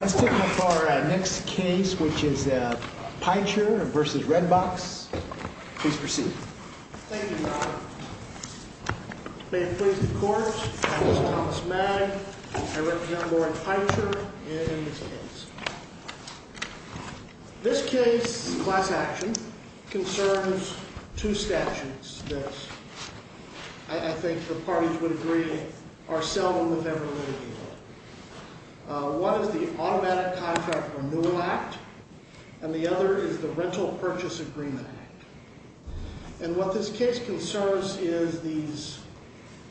Let's take up our next case, which is Pechur v. Redbox. Please proceed. Thank you, Your Honor. May it please the Court, I am Thomas Magg. I represent Lauren Pechur in this case. This case, class action, concerns two statutes that I think the parties would agree are seldom, if ever, related. One is the Automatic Contract Renewal Act, and the other is the Rental Purchase Agreement Act. And what this case concerns is these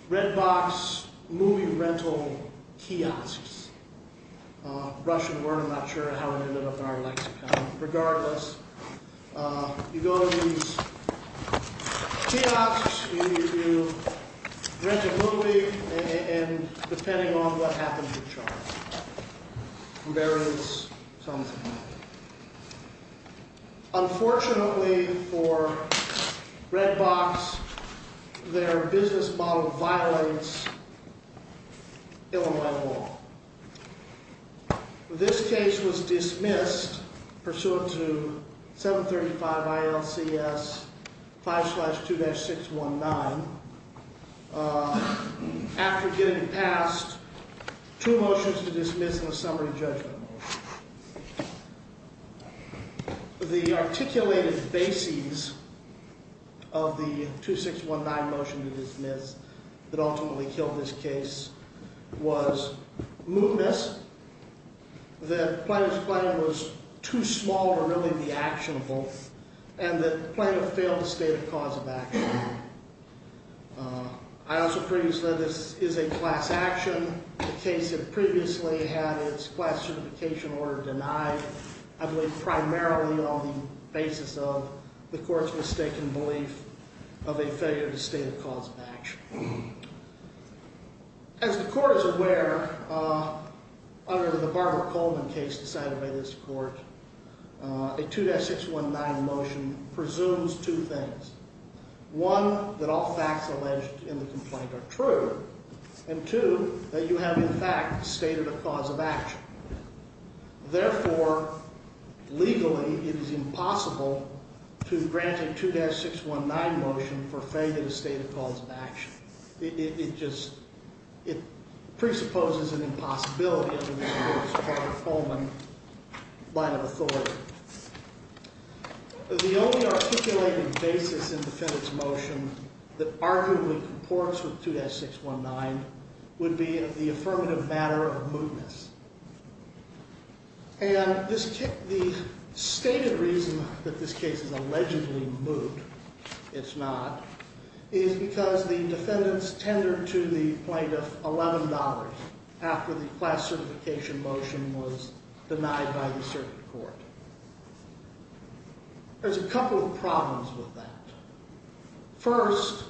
Redbox movie rental kiosks. Russian word, I'm not sure how it ended up in our lexicon. Regardless, you go to these kiosks, you rent a movie, and depending on what happens, you're charged. There is something there. Unfortunately for Redbox, their business model violates Illinois law. This case was dismissed pursuant to 735 ILCS 5-2-619 after getting passed two motions to dismiss and a summary judgment. The articulated basis of the 2619 motion to dismiss that ultimately killed this case was mootness, that Plano's plan was too small to really be actionable, and that Plano failed the state of cause of action. I also previously said this is a class action. The case had previously had its class certification order denied. I believe primarily on the basis of the court's mistaken belief of a failure to state a cause of action. As the court is aware, under the Barbara Coleman case decided by this court, a 2-619 motion presumes two things. One, that all facts alleged in the complaint are true. And two, that you have in fact stated a cause of action. Therefore, legally it is impossible to grant a 2-619 motion for failure to state a cause of action. It presupposes an impossibility under this court of Coleman by an authority. The only articulated basis in the defendant's motion that arguably comports with 2-619 would be the affirmative matter of mootness. And the stated reason that this case is allegedly moot, it's not, is because the defendants tendered to the plaintiff $11 after the class certification motion was denied by the circuit court. There's a couple of problems with that. First,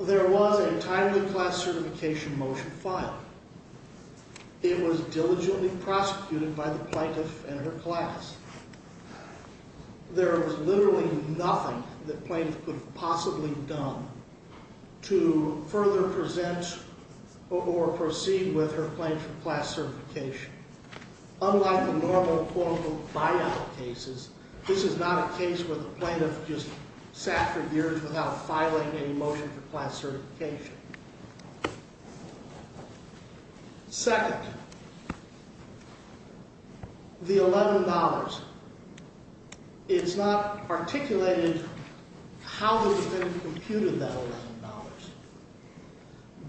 there was a timely class certification motion filed. It was diligently prosecuted by the plaintiff and her class. There was literally nothing the plaintiff could have possibly done to further present or proceed with her claim for class certification. Unlike the normal quote-unquote buyout cases, this is not a case where the plaintiff just sat for years without filing a motion for class certification. Second, the $11. It's not articulated how the defendant computed that $11.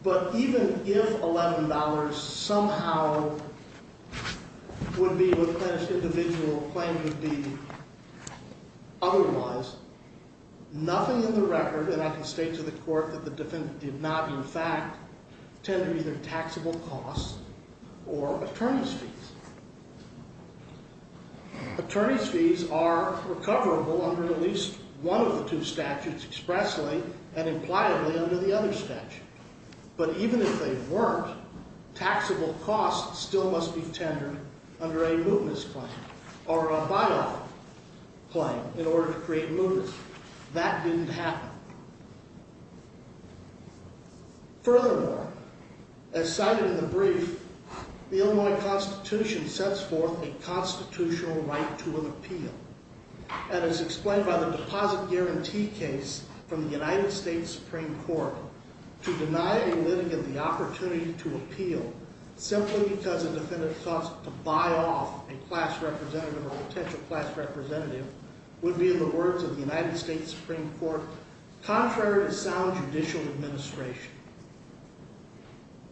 But even if $11 somehow would be replenished, individual claim would be otherwise, nothing in the record, and I can state to the court that the defendant did not in fact tender either taxable costs or attorney's fees. Attorney's fees are recoverable under at least one of the two statutes expressly and impliedly under the other statute. But even if they weren't, taxable costs still must be tendered under a mootness claim or a buyout claim in order to create mootness. That didn't happen. Furthermore, as cited in the brief, the Illinois Constitution sets forth a constitutional right to an appeal. And as explained by the deposit guarantee case from the United States Supreme Court, to deny a litigant the opportunity to appeal simply because a defendant thought to buy off a class representative or potential class representative would be in the words of the United States Supreme Court, contrary to sound judicial administration.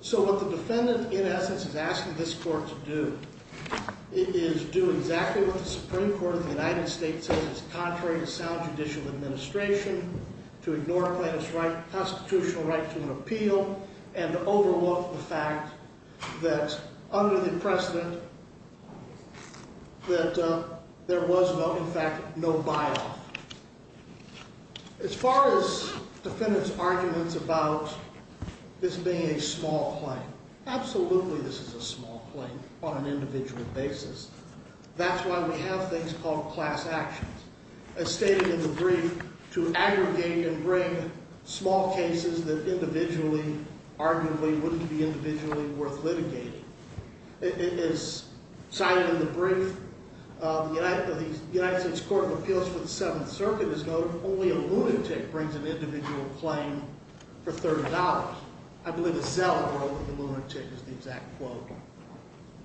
So what the defendant in essence is asking this court to do is do exactly what the Supreme Court of the United States says is contrary to sound judicial administration, to ignore a plaintiff's constitutional right to an appeal and to overlook the fact that under the precedent that there was in fact no buy-off. As far as defendants' arguments about this being a small claim, absolutely this is a small claim on an individual basis. That's why we have things called class actions. As stated in the brief, to aggregate and bring small cases that individually, arguably, wouldn't be individually worth litigating. As cited in the brief, the United States Court of Appeals for the Seventh Circuit has noted only a lunatic brings an individual claim for $30. I believe it's Zell that wrote that the lunatic is the exact quote.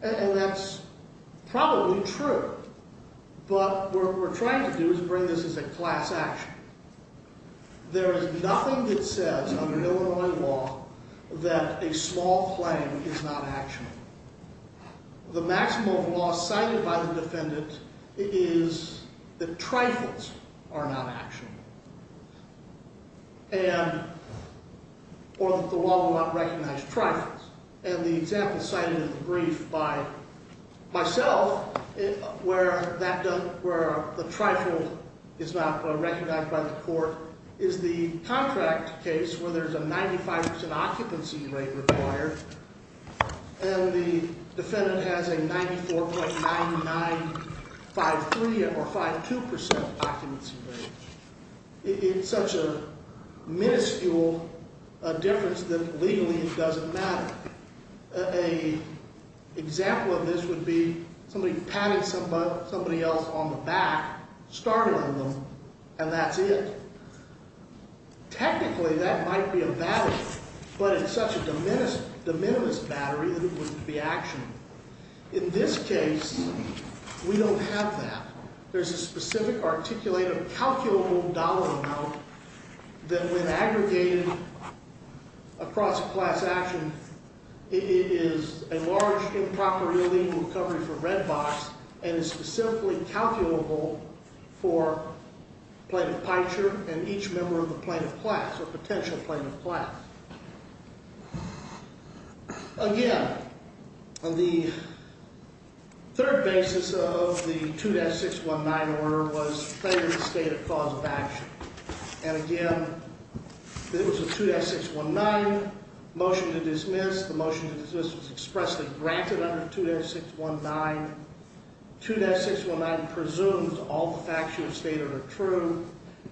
And that's probably true. But what we're trying to do is bring this as a class action. There is nothing that says under Illinois law that a small claim is not actionable. The maximum of law cited by the defendant is that trifles are not actionable. Or that the law will not recognize trifles. And the example cited in the brief by myself where the trifle is not recognized by the court is the contract case where there's a 95% occupancy rate required. And the defendant has a 94.9953 or 52% occupancy rate. It's such a minuscule difference that legally it doesn't matter. An example of this would be somebody patting somebody else on the back, startling them, and that's it. Technically, that might be a battery. But it's such a de minimis battery that it wouldn't be actionable. In this case, we don't have that. There's a specific articulative calculable dollar amount that when aggregated across a class action, it is a large improperly legal recovery for red box and is specifically calculable for plaintiff picture and each member of the plaintiff class or potential plaintiff class. Again, the third basis of the 2-619 order was failure to state a cause of action. And again, it was a 2-619 motion to dismiss. The motion to dismiss was expressly granted under 2-619. 2-619 presumes all the facts you have stated are true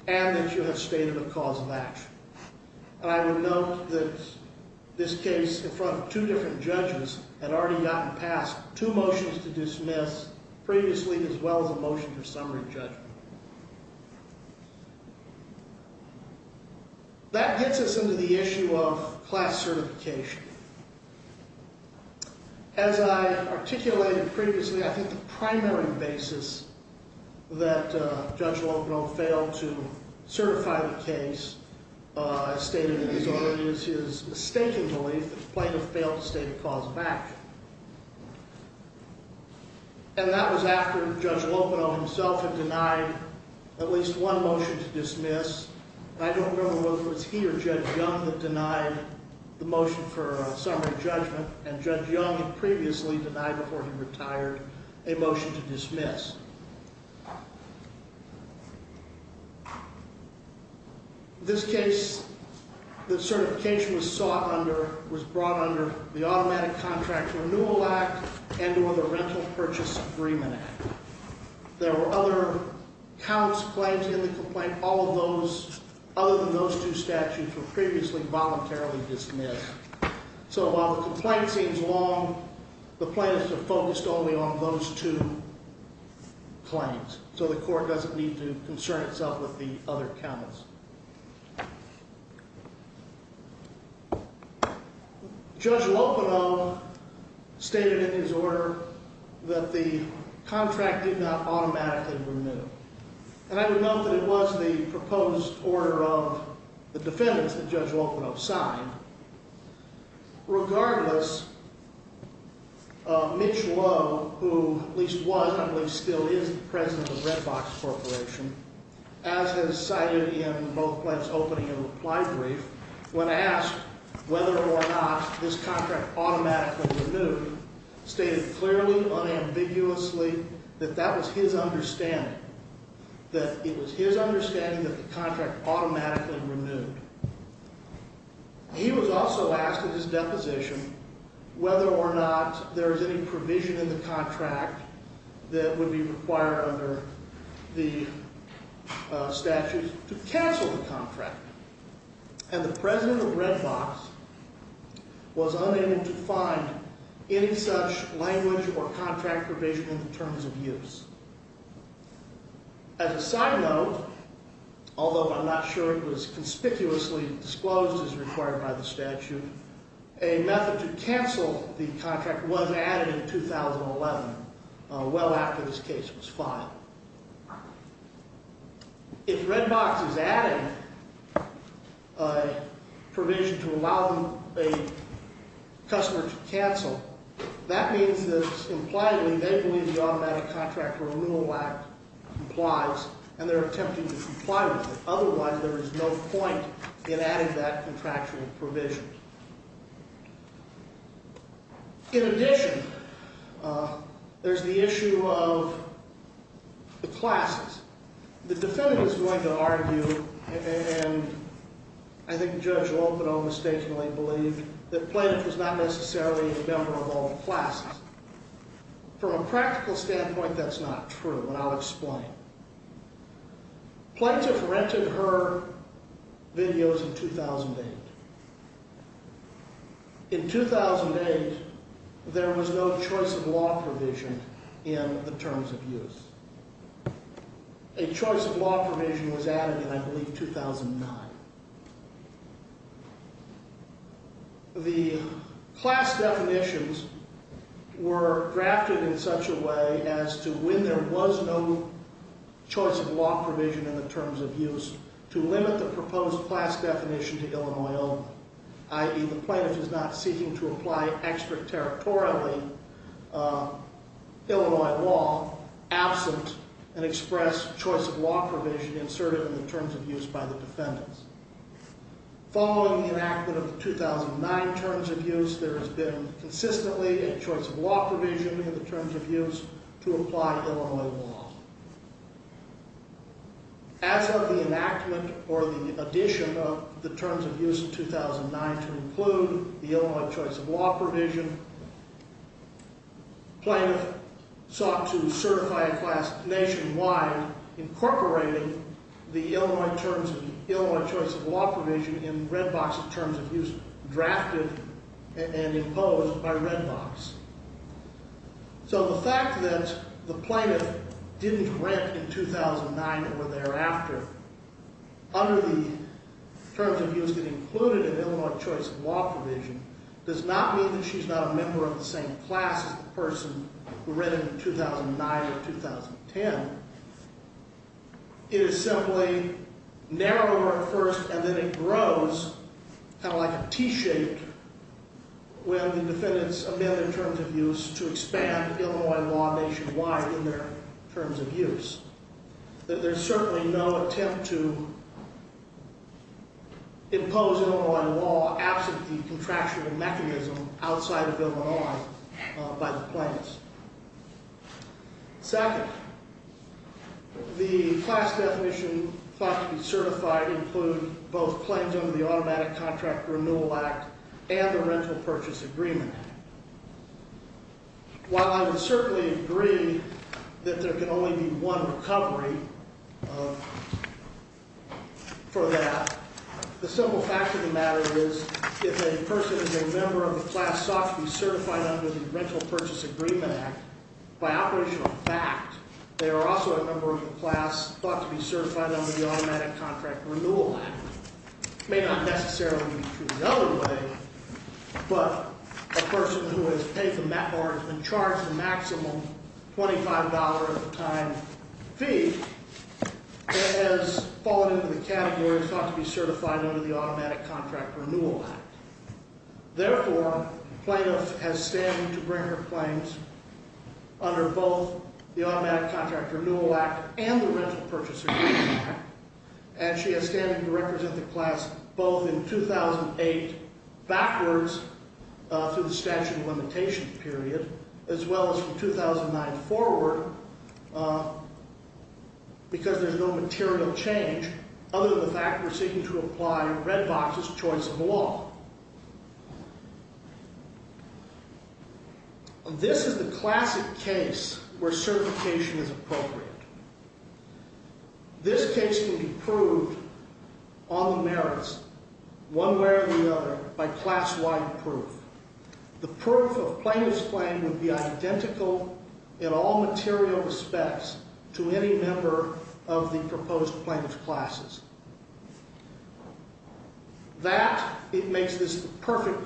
and that you have stated a cause of action. And I would note that this case, in front of two different judges, had already gotten past two motions to dismiss previously as well as a motion to summary judgment. That gets us into the issue of class certification. As I articulated previously, I think the primary basis that Judge Longdon failed to certify the case stated in his order is his mistaken belief that the plaintiff failed to state a cause of action. And that was after Judge Lopino himself had denied at least one motion to dismiss. I don't remember whether it was he or Judge Young that denied the motion for summary judgment, and Judge Young had previously denied before he retired a motion to dismiss. In this case, the certification was sought under, was brought under the Automatic Contract Renewal Act and or the Rental Purchase Agreement Act. There were other counts, plaintiffs in the complaint, all of those other than those two statutes were previously voluntarily dismissed. So while the complaint seems long, the plaintiffs have focused only on those two claims. So the court doesn't need to concern itself with the other counts. Judge Lopino stated in his order that the contract did not automatically renew. And I would note that it was the proposed order of the defendants that Judge Lopino signed. Regardless, Mitch Lowe, who at least was, I believe still is, the president of Red Box Corporation, as has cited in both Plaintiff's opening and reply brief, when asked whether or not this contract automatically renewed, stated clearly, unambiguously, that that was his understanding, that it was his understanding that the contract automatically renewed. He was also asked in his deposition whether or not there was any provision in the contract that would be required under the statutes to cancel the contract. And the president of Red Box was unable to find any such language or contract provision in the terms of use. As a side note, although I'm not sure it was conspicuously disclosed as required by the statute, a method to cancel the contract was added in 2011, well after this case was filed. If Red Box is adding a provision to allow a customer to cancel, that means that, impliedly, they believe the automatic contract where a rule lacked complies, and they're attempting to comply with it. Otherwise, there is no point in adding that contractual provision. In addition, there's the issue of the classes. The defendant is going to argue, and I think Judge Lompino mistakenly believed, that Plaintiff was not necessarily a member of all classes. From a practical standpoint, that's not true, and I'll explain. Plaintiff rented her videos in 2008. In 2008, there was no choice of law provision in the terms of use. A choice of law provision was added in, I believe, 2009. The class definitions were drafted in such a way as to, when there was no choice of law provision in the terms of use, to limit the proposed class definition to Illinois only, i.e., the plaintiff is not seeking to apply extraterritorially Illinois law, absent an express choice of law provision inserted in the terms of use by the defendants. Following the enactment of the 2009 terms of use, there has been consistently a choice of law provision in the terms of use to apply Illinois law. As of the enactment or the addition of the terms of use in 2009 to include the Illinois choice of law provision, Plaintiff sought to certify a class nationwide, incorporating the Illinois terms of use, Illinois choice of law provision, in Redbox terms of use, drafted and imposed by Redbox. So the fact that the plaintiff didn't rent in 2009 or thereafter under the terms of use that included an Illinois choice of law provision does not mean that she's not a member of the same class as the person who rented in 2009 or 2010. It is simply narrower at first and then it grows, kind of like a T-shaped, when the defendants amend their terms of use to expand Illinois law nationwide in their terms of use. There's certainly no attempt to impose Illinois law absent the contractual mechanism outside of Illinois by the plaintiffs. Second, the class definition thought to be certified might include both claims under the Automatic Contract Renewal Act and the Rental Purchase Agreement Act. While I would certainly agree that there can only be one recovery for that, the simple fact of the matter is if a person is a member of the class sought to be certified under the Rental Purchase Agreement Act, by operational fact they are also a member of the class thought to be certified under the Automatic Contract Renewal Act. It may not necessarily be true the other way, but a person who has paid or has been charged a maximum $25 a time fee has fallen into the category thought to be certified under the Automatic Contract Renewal Act. Therefore, the plaintiff has standing to bring her claims under both the Automatic Contract Renewal Act and the Rental Purchase Agreement Act, and she has standing to represent the class both in 2008, backwards through the statute of limitations period, as well as from 2009 forward, because there's no material change other than the fact we're seeking to apply Redbox's choice of law. This is the classic case where certification is appropriate. This case can be proved on the merits, one way or the other, by class-wide proof. The proof of plaintiff's claim would be identical in all material respects to any member of the proposed plaintiff's classes. That makes this the perfect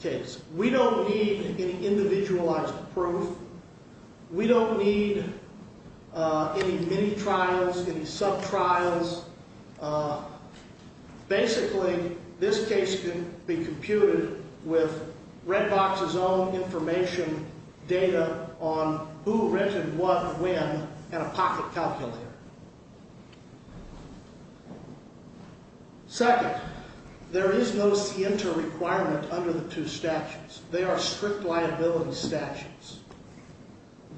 case. We don't need any individualized proof. We don't need any mini-trials, any sub-trials. Basically, this case can be computed with Redbox's own information data on who rented what and when in a pocket calculator. Second, there is no SIENTA requirement under the two statutes. They are strict liability statutes.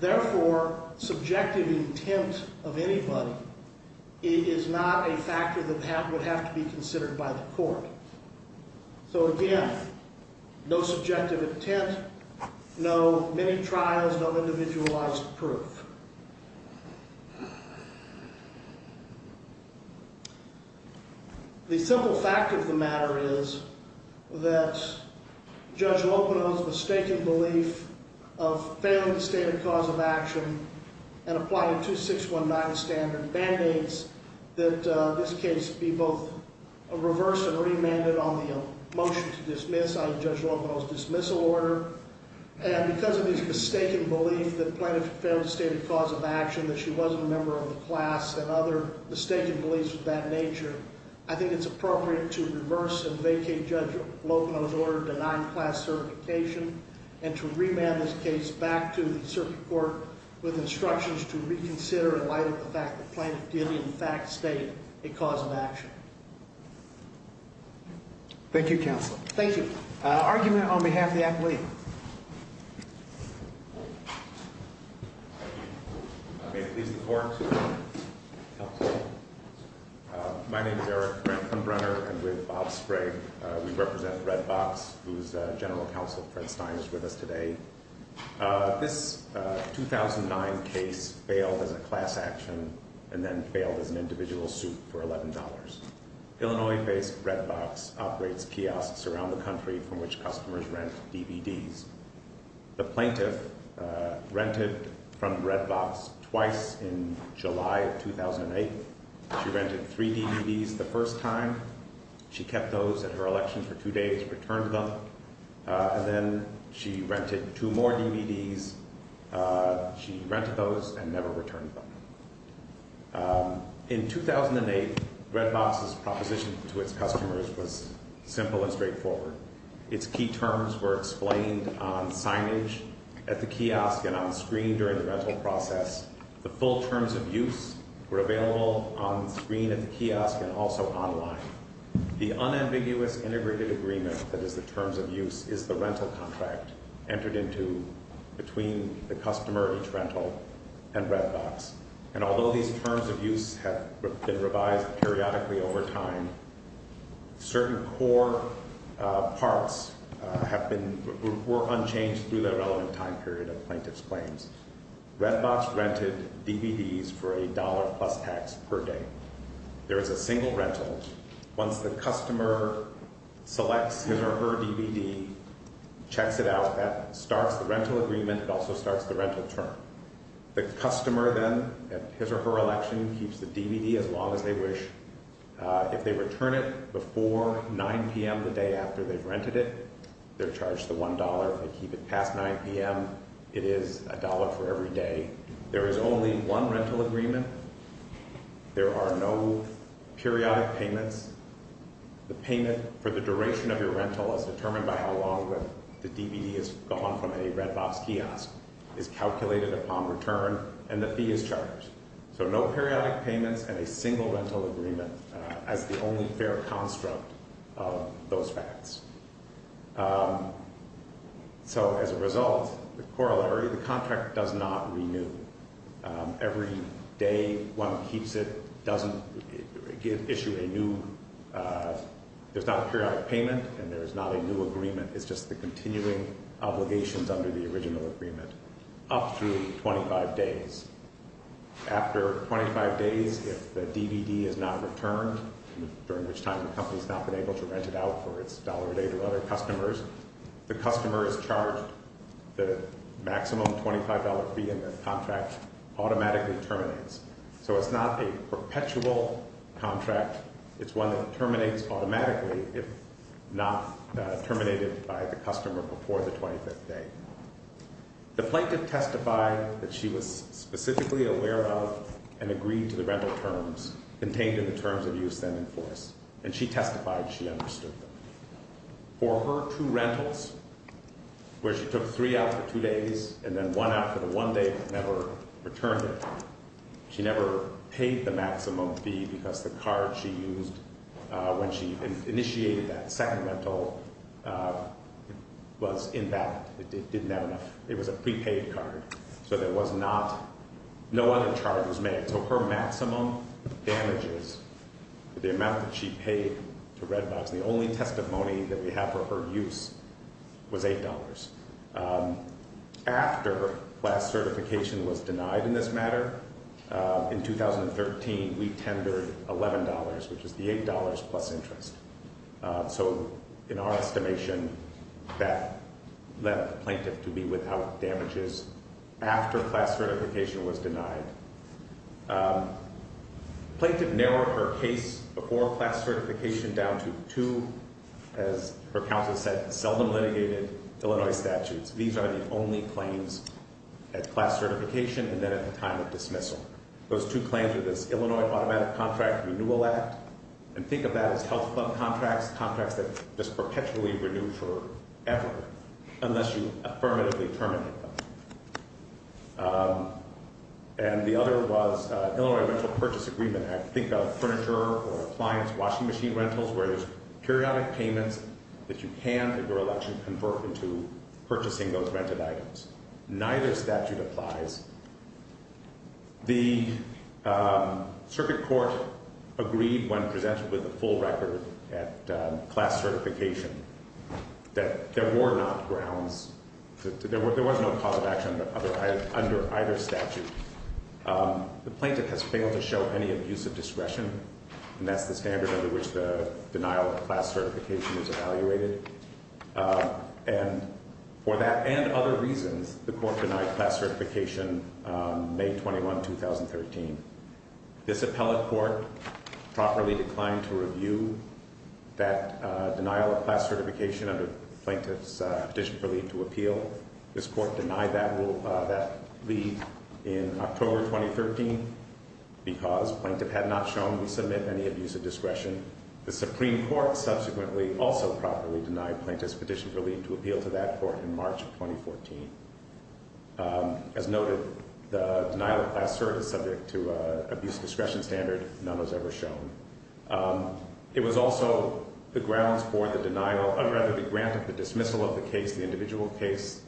Therefore, subjective intent of anybody is not a factor that would have to be considered by the court. So again, no subjective intent, no mini-trials, no individualized proof. The simple fact of the matter is that Judge Lopino's mistaken belief of failing the stated cause of action and applying 2619 standard band-aids that this case be both reversed and remanded on the motion to dismiss on Judge Lopino's dismissal order. And because of his mistaken belief that Plaintiff failed the stated cause of action, that she wasn't a member of the class, and other mistaken beliefs of that nature, I think it's appropriate to reverse and vacate Judge Lopino's order denying class certification and to remand this case back to the circuit court with instructions to reconsider in light of the fact that Plaintiff did in fact state a cause of action. Thank you, Counsel. Argument on behalf of the athlete. May it please the court. My name is Eric Brenner, and with Bob Sprague we represent Red Box, whose General Counsel Fred Stein is with us today. This 2009 case failed as a class action and then failed as an individual suit for $11. Illinois-based Red Box operates kiosks around the country from which customers rent DVDs. The Plaintiff rented from Red Box twice in July of 2008. She rented three DVDs the first time. She kept those at her election for two days, returned them, and then she rented two more DVDs. She rented those and never returned them. In 2008, Red Box's proposition to its customers was simple and straightforward. Its key terms were explained on signage at the kiosk and on screen during the rental process. The full terms of use were available on screen at the kiosk and also online. The unambiguous integrated agreement that is the terms of use is the rental contract entered into between the customer of each rental and Red Box. And although these terms of use have been revised periodically over time, certain core parts were unchanged Red Box rented DVDs for a dollar-plus tax per day. There is a single rental. Once the customer selects his or her DVD, checks it out, that starts the rental agreement. It also starts the rental term. The customer then, at his or her election, keeps the DVD as long as they wish. If they return it before 9 p.m. the day after they've rented it, they're charged the one dollar. If they keep it past 9 p.m., it is a dollar for every day. There is only one rental agreement. There are no periodic payments. The payment for the duration of your rental is determined by how long the DVD has gone from a Red Box kiosk, is calculated upon return, and the fee is charged. So no periodic payments and a single rental agreement as the only fair construct of those facts. So as a result, the corollary, the contract does not renew. Every day one keeps it doesn't issue a new, there's not a periodic payment and there's not a new agreement. It's just the continuing obligations under the original agreement up through 25 days. After 25 days, if the DVD is not returned, during which time the company's not been able to rent it out for its dollar a day to other customers, the customer is charged the maximum $25 fee and the contract automatically terminates. So it's not a perpetual contract. It's one that terminates automatically if not terminated by the customer before the 25th day. The plaintiff testified that she was specifically aware of and agreed to the rental terms contained in the terms of use then enforced and she testified she understood them. For her two rentals where she took three out for two days and then one out for the one day but never returned it, she never paid the maximum fee because the card she used when she initiated that second rental was invalid. It didn't have enough. It was a prepaid card. So there was not, no other charge was made. So her maximum damages, the amount that she paid to Redbox, the only testimony that we have for her use was $8. After class certification was denied in this matter, in 2013, we tendered $11, which is the $8 plus interest. So in our estimation, that left the plaintiff to be without damages after class certification was denied. Plaintiff narrowed her case before class certification down to two, as her counsel said, seldom litigated Illinois statutes. These are the only claims at class certification and then at the time of dismissal. Those two claims are this Illinois Automatic Contract Renewal Act, and think of that as health club contracts, contracts that just perpetually renew forever unless you affirmatively terminate them. And the other was Illinois Rental Purchase Agreement Act. Think of furniture or appliance washing machine rentals where there's periodic payments that you can, if you're elected, convert into purchasing those rented items. Neither statute applies. The circuit court agreed when presented with the full record at class certification that there were not grounds to, there was no cause of action under either statute. The plaintiff has failed to show any abuse of discretion, and that's the standard under which the denial of class certification is evaluated. And for that and other reasons, the court denied class certification May 21, 2013. This appellate court properly declined to review that denial of class certification under the plaintiff's petition for leave to appeal. This court denied that leave in October 2013 because plaintiff had not shown to submit any abuse of discretion. The Supreme Court subsequently also properly denied plaintiff's petition for leave to appeal to that court in March 2014. As noted, the denial of class cert is subject to abuse of discretion standard. None was ever shown. It was also the grounds for the denial, or rather the grant of the dismissal of the case, the individual case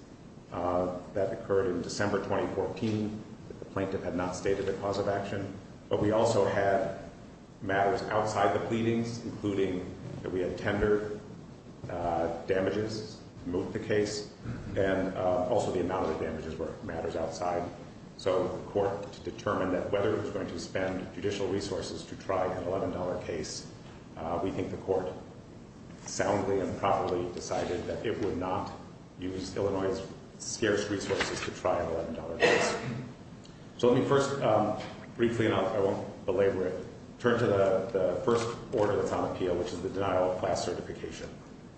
that occurred in December 2014 that the plaintiff had not stated a cause of action. But we also had matters outside the pleadings, including that we had tendered damages to move the case, and also the amount of the damages were matters outside. So the court determined that whether it was going to spend judicial resources to try an $11 case, we think the court soundly and properly decided that it would not use Illinois' scarce resources to try an $11 case. So let me first, briefly enough, I won't belabor it, turn to the first order that's on appeal, which is the denial of class certification.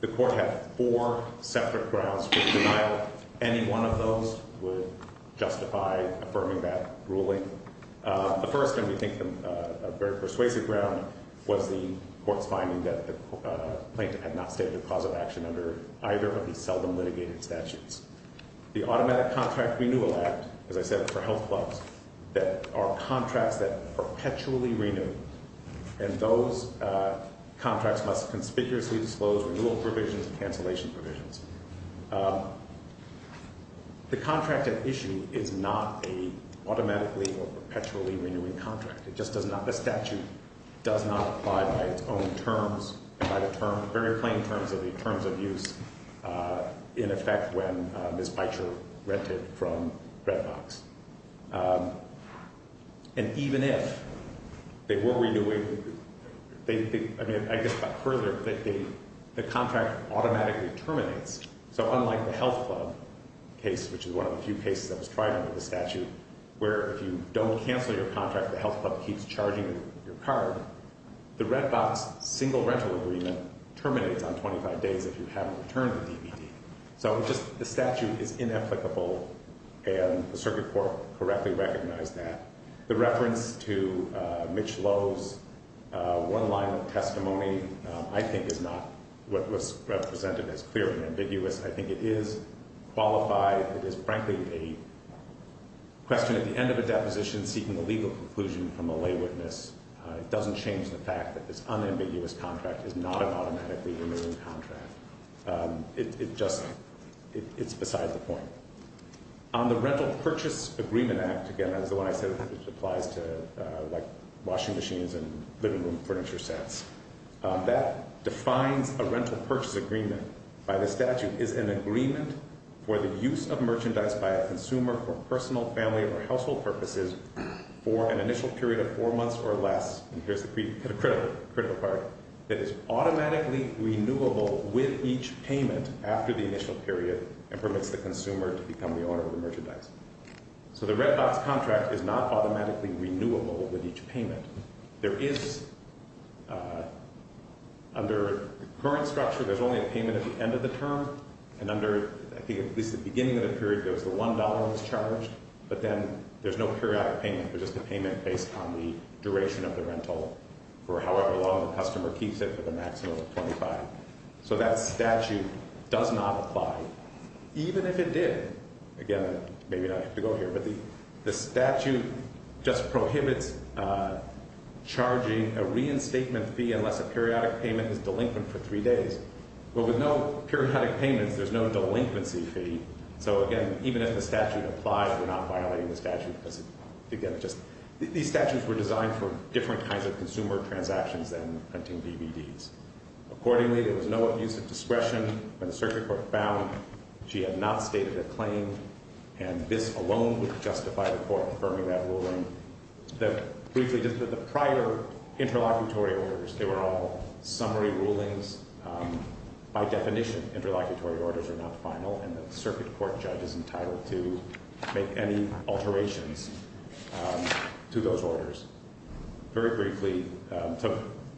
The court had four separate grounds for the denial. Any one of those would justify affirming that ruling. The first, and we think a very persuasive ground, was the court's finding that the plaintiff had not stated a cause of action under either of these seldom litigated statutes. The Automatic Contract Renewal Act, as I said, for health clubs, that are contracts that perpetually renew, and those contracts must conspicuously disclose renewal provisions and cancellation provisions. The contract at issue is not an automatically or perpetually renewing contract. It just does not, the statute does not apply by its own terms, and by the very plain terms of the terms of use in effect when Ms. Bycher rented from Redbox. And even if they were renewing, I guess about further, the contract automatically terminates. So unlike the health club case, which is one of the few cases that was tried under the statute, where if you don't cancel your contract, the health club keeps charging your card, the Redbox single rental agreement terminates on 25 days if you haven't returned the DVD. So the statute is inapplicable, and the circuit court correctly recognized that. The reference to Mitch Lowe's one-line testimony I think is not what was represented as clearly ambiguous. I think it is qualified, it is frankly a question at the end of a deposition seeking a legal conclusion from a lay witness. It doesn't change the fact that this unambiguous contract is not an automatically renewing contract. It just, it's beside the point. On the rental purchase agreement act, again that's the one I said which applies to like washing machines and living room furniture sets, that defines a rental purchase agreement by the statute is an agreement for the use of merchandise by a consumer or less, and here's the critical part, that is automatically renewable with each payment after the initial period and permits the consumer to become the owner of the merchandise. So the Redbox contract is not automatically renewable with each payment. There is, under current structure, there's only a payment at the end of the term, and under, I think at least the beginning of the period, there was the $1 that was charged, but then there's no periodic payment, there's just a payment based on the duration of the rental for however long the customer keeps it for the maximum of 25. So that statute does not apply, even if it did. Again, maybe I don't have to go here, but the statute just prohibits charging a reinstatement fee unless a periodic payment is delinquent for three days. Well, with no periodic payments, there's no delinquency fee, so again, even if the statute applies, we're not violating the statute because, again, these statutes were designed for different kinds of consumer transactions than printing DVDs. Accordingly, there was no abuse of discretion. When the circuit court found she had not stated a claim, and this alone would justify the court affirming that ruling. Briefly, just the prior interlocutory orders, they were all summary rulings. By definition, interlocutory orders are not final, and the circuit court judge is entitled to make any alterations to those orders. Very briefly,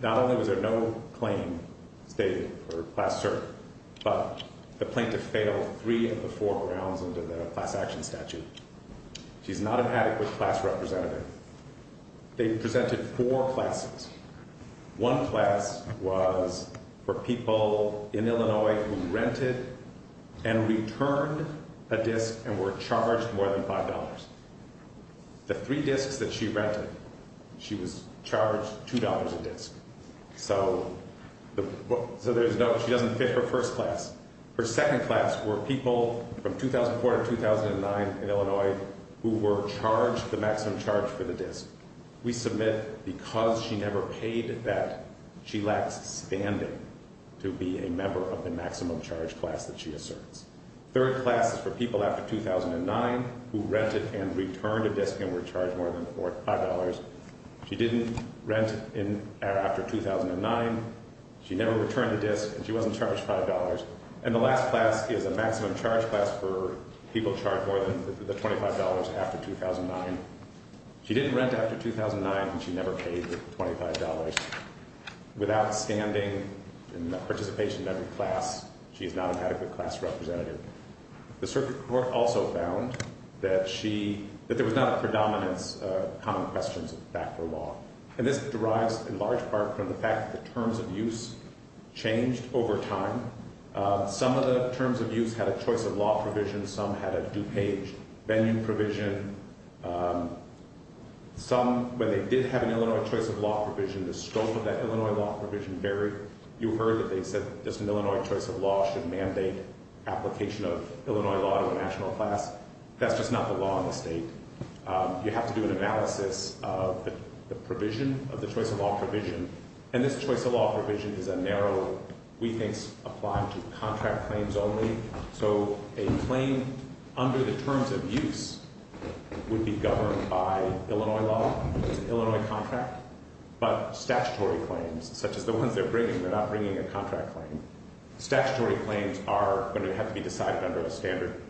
not only was there no claim stated for Class Cert, but the plaintiff failed three of the four grounds under the Class Action Statute. She's not an adequate class representative. They presented four classes. One class was for people in Illinois who rented and returned a disc and were charged more than $5. The three discs that she rented, she was charged $2 a disc. So there's no, she doesn't fit her first class. Her second class were people from 2004 to 2009 in Illinois who were charged the maximum charge for the disc. We submit because she never paid that, she lacks standing to be a member of the maximum charge class that she asserts. Third class is for people after 2009 who rented and returned a disc and were charged more than $5. She didn't rent after 2009. She never returned a disc, and she wasn't charged $5. And the last class is a maximum charge class for people charged more than the $25 after 2009. She didn't rent after 2009, and she never paid the $25. Without standing and participation in every class, she is not an adequate class representative. The circuit court also found that she, that there was not a predominance of common questions of backdoor law. And this derives in large part from the fact that the terms of use changed over time. Some of the terms of use had a choice of law provision. Some had a due page venue provision. Some, when they did have an Illinois choice of law provision, the scope of that Illinois law provision varied. You heard that they said this Illinois choice of law should mandate application of Illinois law to a national class. That's just not the law in the state. You have to do an analysis of the provision, of the choice of law provision. And this choice of law provision is a narrow, we think, apply to contract claims only. So a claim under the terms of use would be governed by Illinois law. It's an Illinois contract. But statutory claims, such as the ones they're bringing, they're not bringing a contract claim. Statutory claims are going to have to be decided under a standard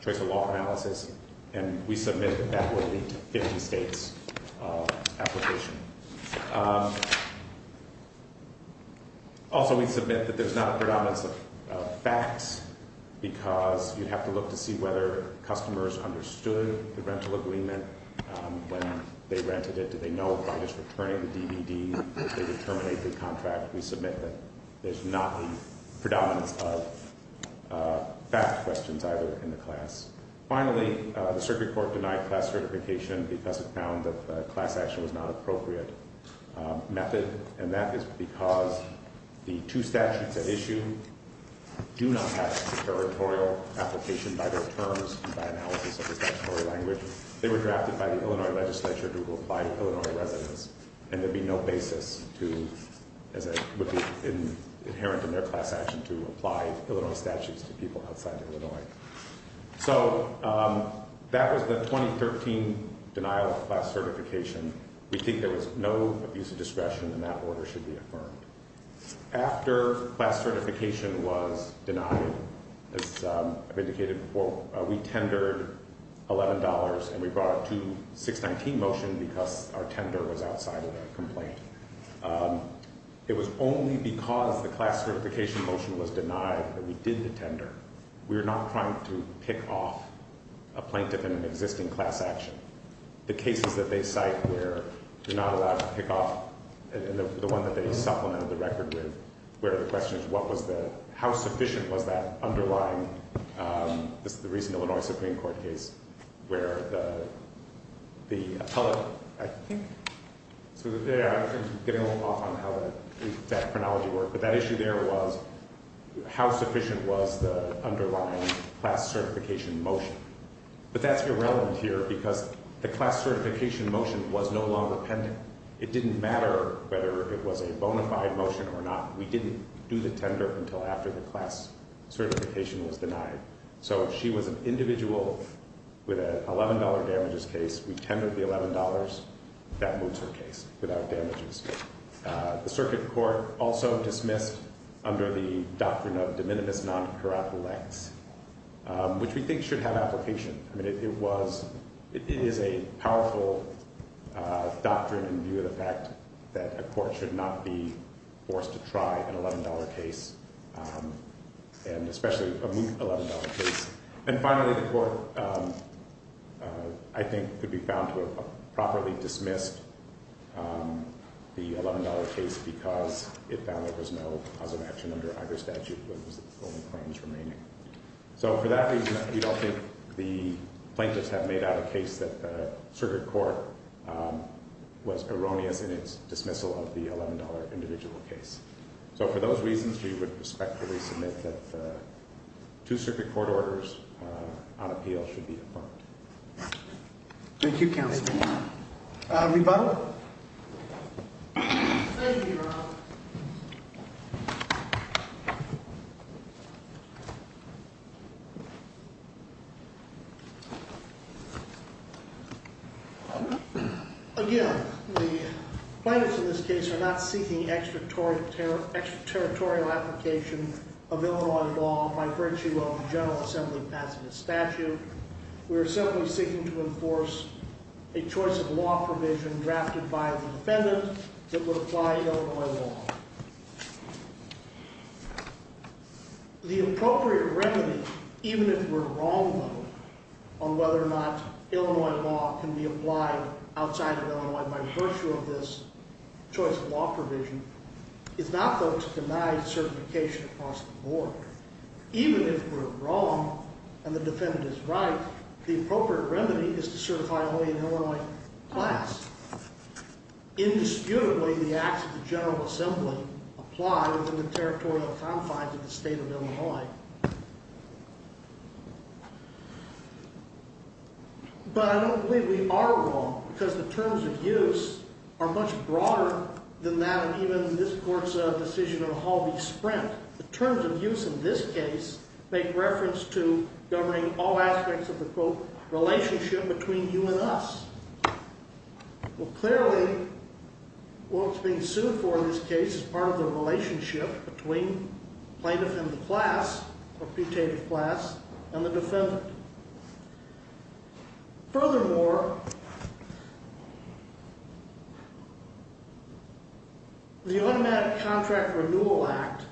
choice of law analysis. And we submit that that would lead to 50 states' application. Also, we submit that there's not a predominance of facts because you'd have to look to see whether customers understood the rental agreement when they rented it. Did they know by just returning the DVD that they would terminate the contract? We submit that there's not a predominance of fact questions either in the class. Finally, the circuit court denied class certification because it found that class action was not an appropriate method. And that is because the two statutes at issue do not have a territorial application by their terms and by analysis of the statutory language. They were drafted by the Illinois legislature to apply to Illinois residents. And there'd be no basis to, as would be inherent in their class action, to apply Illinois statutes to people outside Illinois. So that was the 2013 denial of class certification. We think there was no problem with use of discretion and that order should be affirmed. After class certification was denied, as I've indicated before, we tendered $11 and we brought a 2-619 motion because our tender was outside of the complaint. It was only because the class certification motion was denied that we did the tender. We're not trying to pick off a plaintiff in an existing class action. The cases that they cite where they're not allowed to pick off and the one that they supplemented the record with, where the question is how sufficient was that underlying, this is the recent Illinois Supreme Court case, where the appellate, I think, I'm getting a little off on how that chronology worked, but that issue there was how sufficient was the underlying class certification motion. But that's irrelevant here because the class certification motion was no longer pending. It didn't matter whether it was a bona fide motion or not. We didn't do the tender until after the class certification was denied. So if she was an individual with an $11 damages case, we tendered the $11, that moves her case without damages. The circuit court also dismissed under the doctrine of de minimis non curat lex, which we think should have application. It is a powerful doctrine in view of the fact that a court should not be forced to try an $11 case and especially a moot $11 case. And finally, the court I think could be found to have properly dismissed the $11 case because it found there was no cause of action under either statute. So for that reason, we don't think the plaintiffs have made out a case that the circuit court was erroneous in its dismissal of the $11 individual case. So for those reasons, we would respectfully submit that two circuit court orders on appeal should be approved. Thank you, Counselor. Rebuttal? Thank you, Your Honor. Again, the plaintiffs in this case are not seeking the extraterritorial application of Illinois law by virtue of the General Assembly passing a statute. We are simply seeking to enforce a choice of law provision drafted by a defendant that would apply Illinois law. The appropriate remedy, even if we're wrong, though, on whether or not Illinois law can be certified, is not to deny certification across the board. Even if we're wrong and the defendant is right, the appropriate remedy is to certify only an Illinois class. Indisputably, the acts of the General Assembly apply within the territorial confines of the state of Illinois. But I don't believe we are wrong because the terms of use are much broader than that of even this court's decision of a Halby Sprint. The terms of use in this case make reference to governing all aspects of the, quote, relationship between you and us. Well, clearly, what's being sued for in this case is part of the relationship between plaintiff and the class, or pre-tated class, and the defendant. Furthermore, the Automatic Contract Renewal Act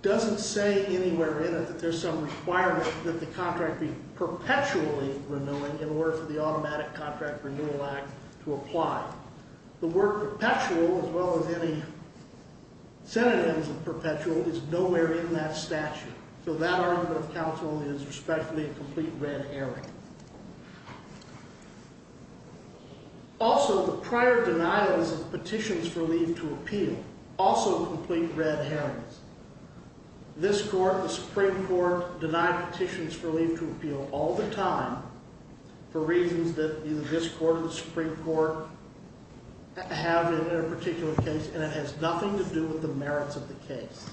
doesn't say anywhere in it that there's some requirement that the contract be perpetually renewing in order for the Automatic Contract Renewal Act to apply. The word perpetual, as well as any synonyms of perpetual, is nowhere in that statute. So that argument of counsel is respectfully a complete red herring. Also, the prior denials of petitions for leave to appeal, also complete red herrings. This court, the Supreme Court, denied petitions for leave to appeal all the time for reasons that either this court or the Supreme Court have in their particular case, and it has nothing to do with the merits of the case.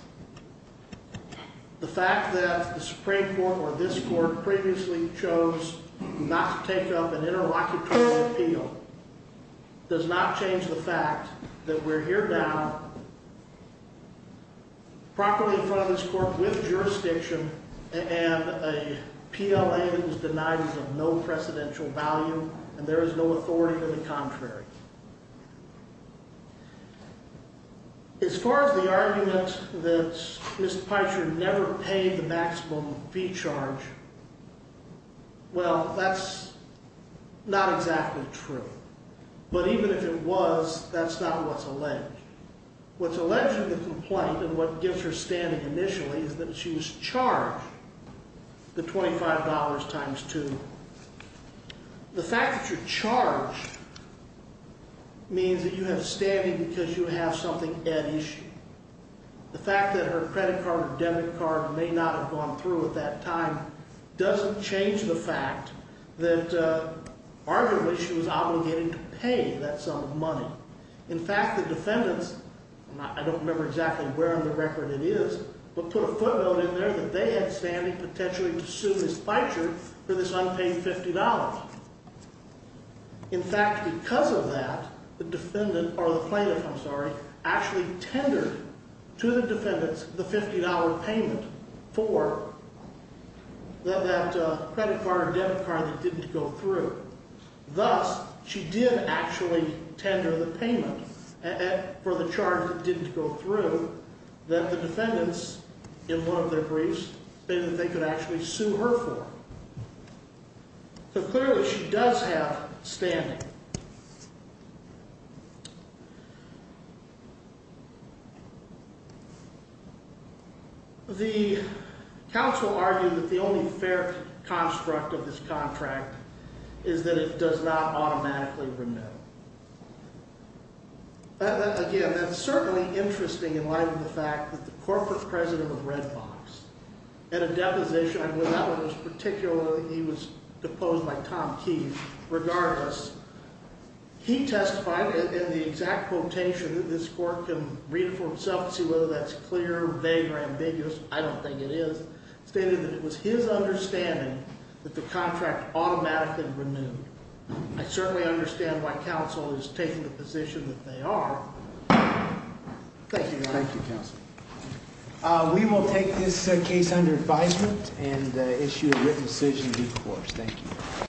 The fact that the Supreme Court or this court previously chose not to take up an interlocutorial appeal does not change the fact that we're here now properly in front of this court with jurisdiction and a contract. As far as the argument that Ms. Peicher never paid the maximum fee charge, well, that's not exactly true. But even if it was, that's not what's alleged. What's alleged in the complaint and what gives her standing initially is that she was charged the $25 times 2. The fact that you're charged means that you have standing because you have something at issue. The fact that her credit card or debit card may not have gone through at that time doesn't change the fact that arguably she was obligated to pay that sum of money. In fact, the defendants, and I don't remember exactly where on the board, but the plaintiff, Ms. Peicher, for this unpaid $50. In fact, because of that, the defendant, or the plaintiff, I'm sorry, actually tendered to the defendants the $50 payment for that credit card or debit card that didn't go through. Thus, she did actually tender the payment for the charge that didn't go through that the defendants in one of their briefs think that they could actually sue her for. So clearly, she does have standing. The counsel argued that the only fair construct of this contract is that it does not automatically remit. Again, that's certainly interesting in light of the fact that the corporate president of Red Box, at a deposition, I know that one was particularly, he was deposed by Tom Key, regardless, he testified in the exact quotation that this court can read for itself to see whether that's clear, vague, or ambiguous. I don't think it is. Stated that it was his understanding that the contract automatically renewed. I certainly understand why counsel is taking the position that they are. Thank you. We will take this case under advisement and issue a written decision due course. Thank you.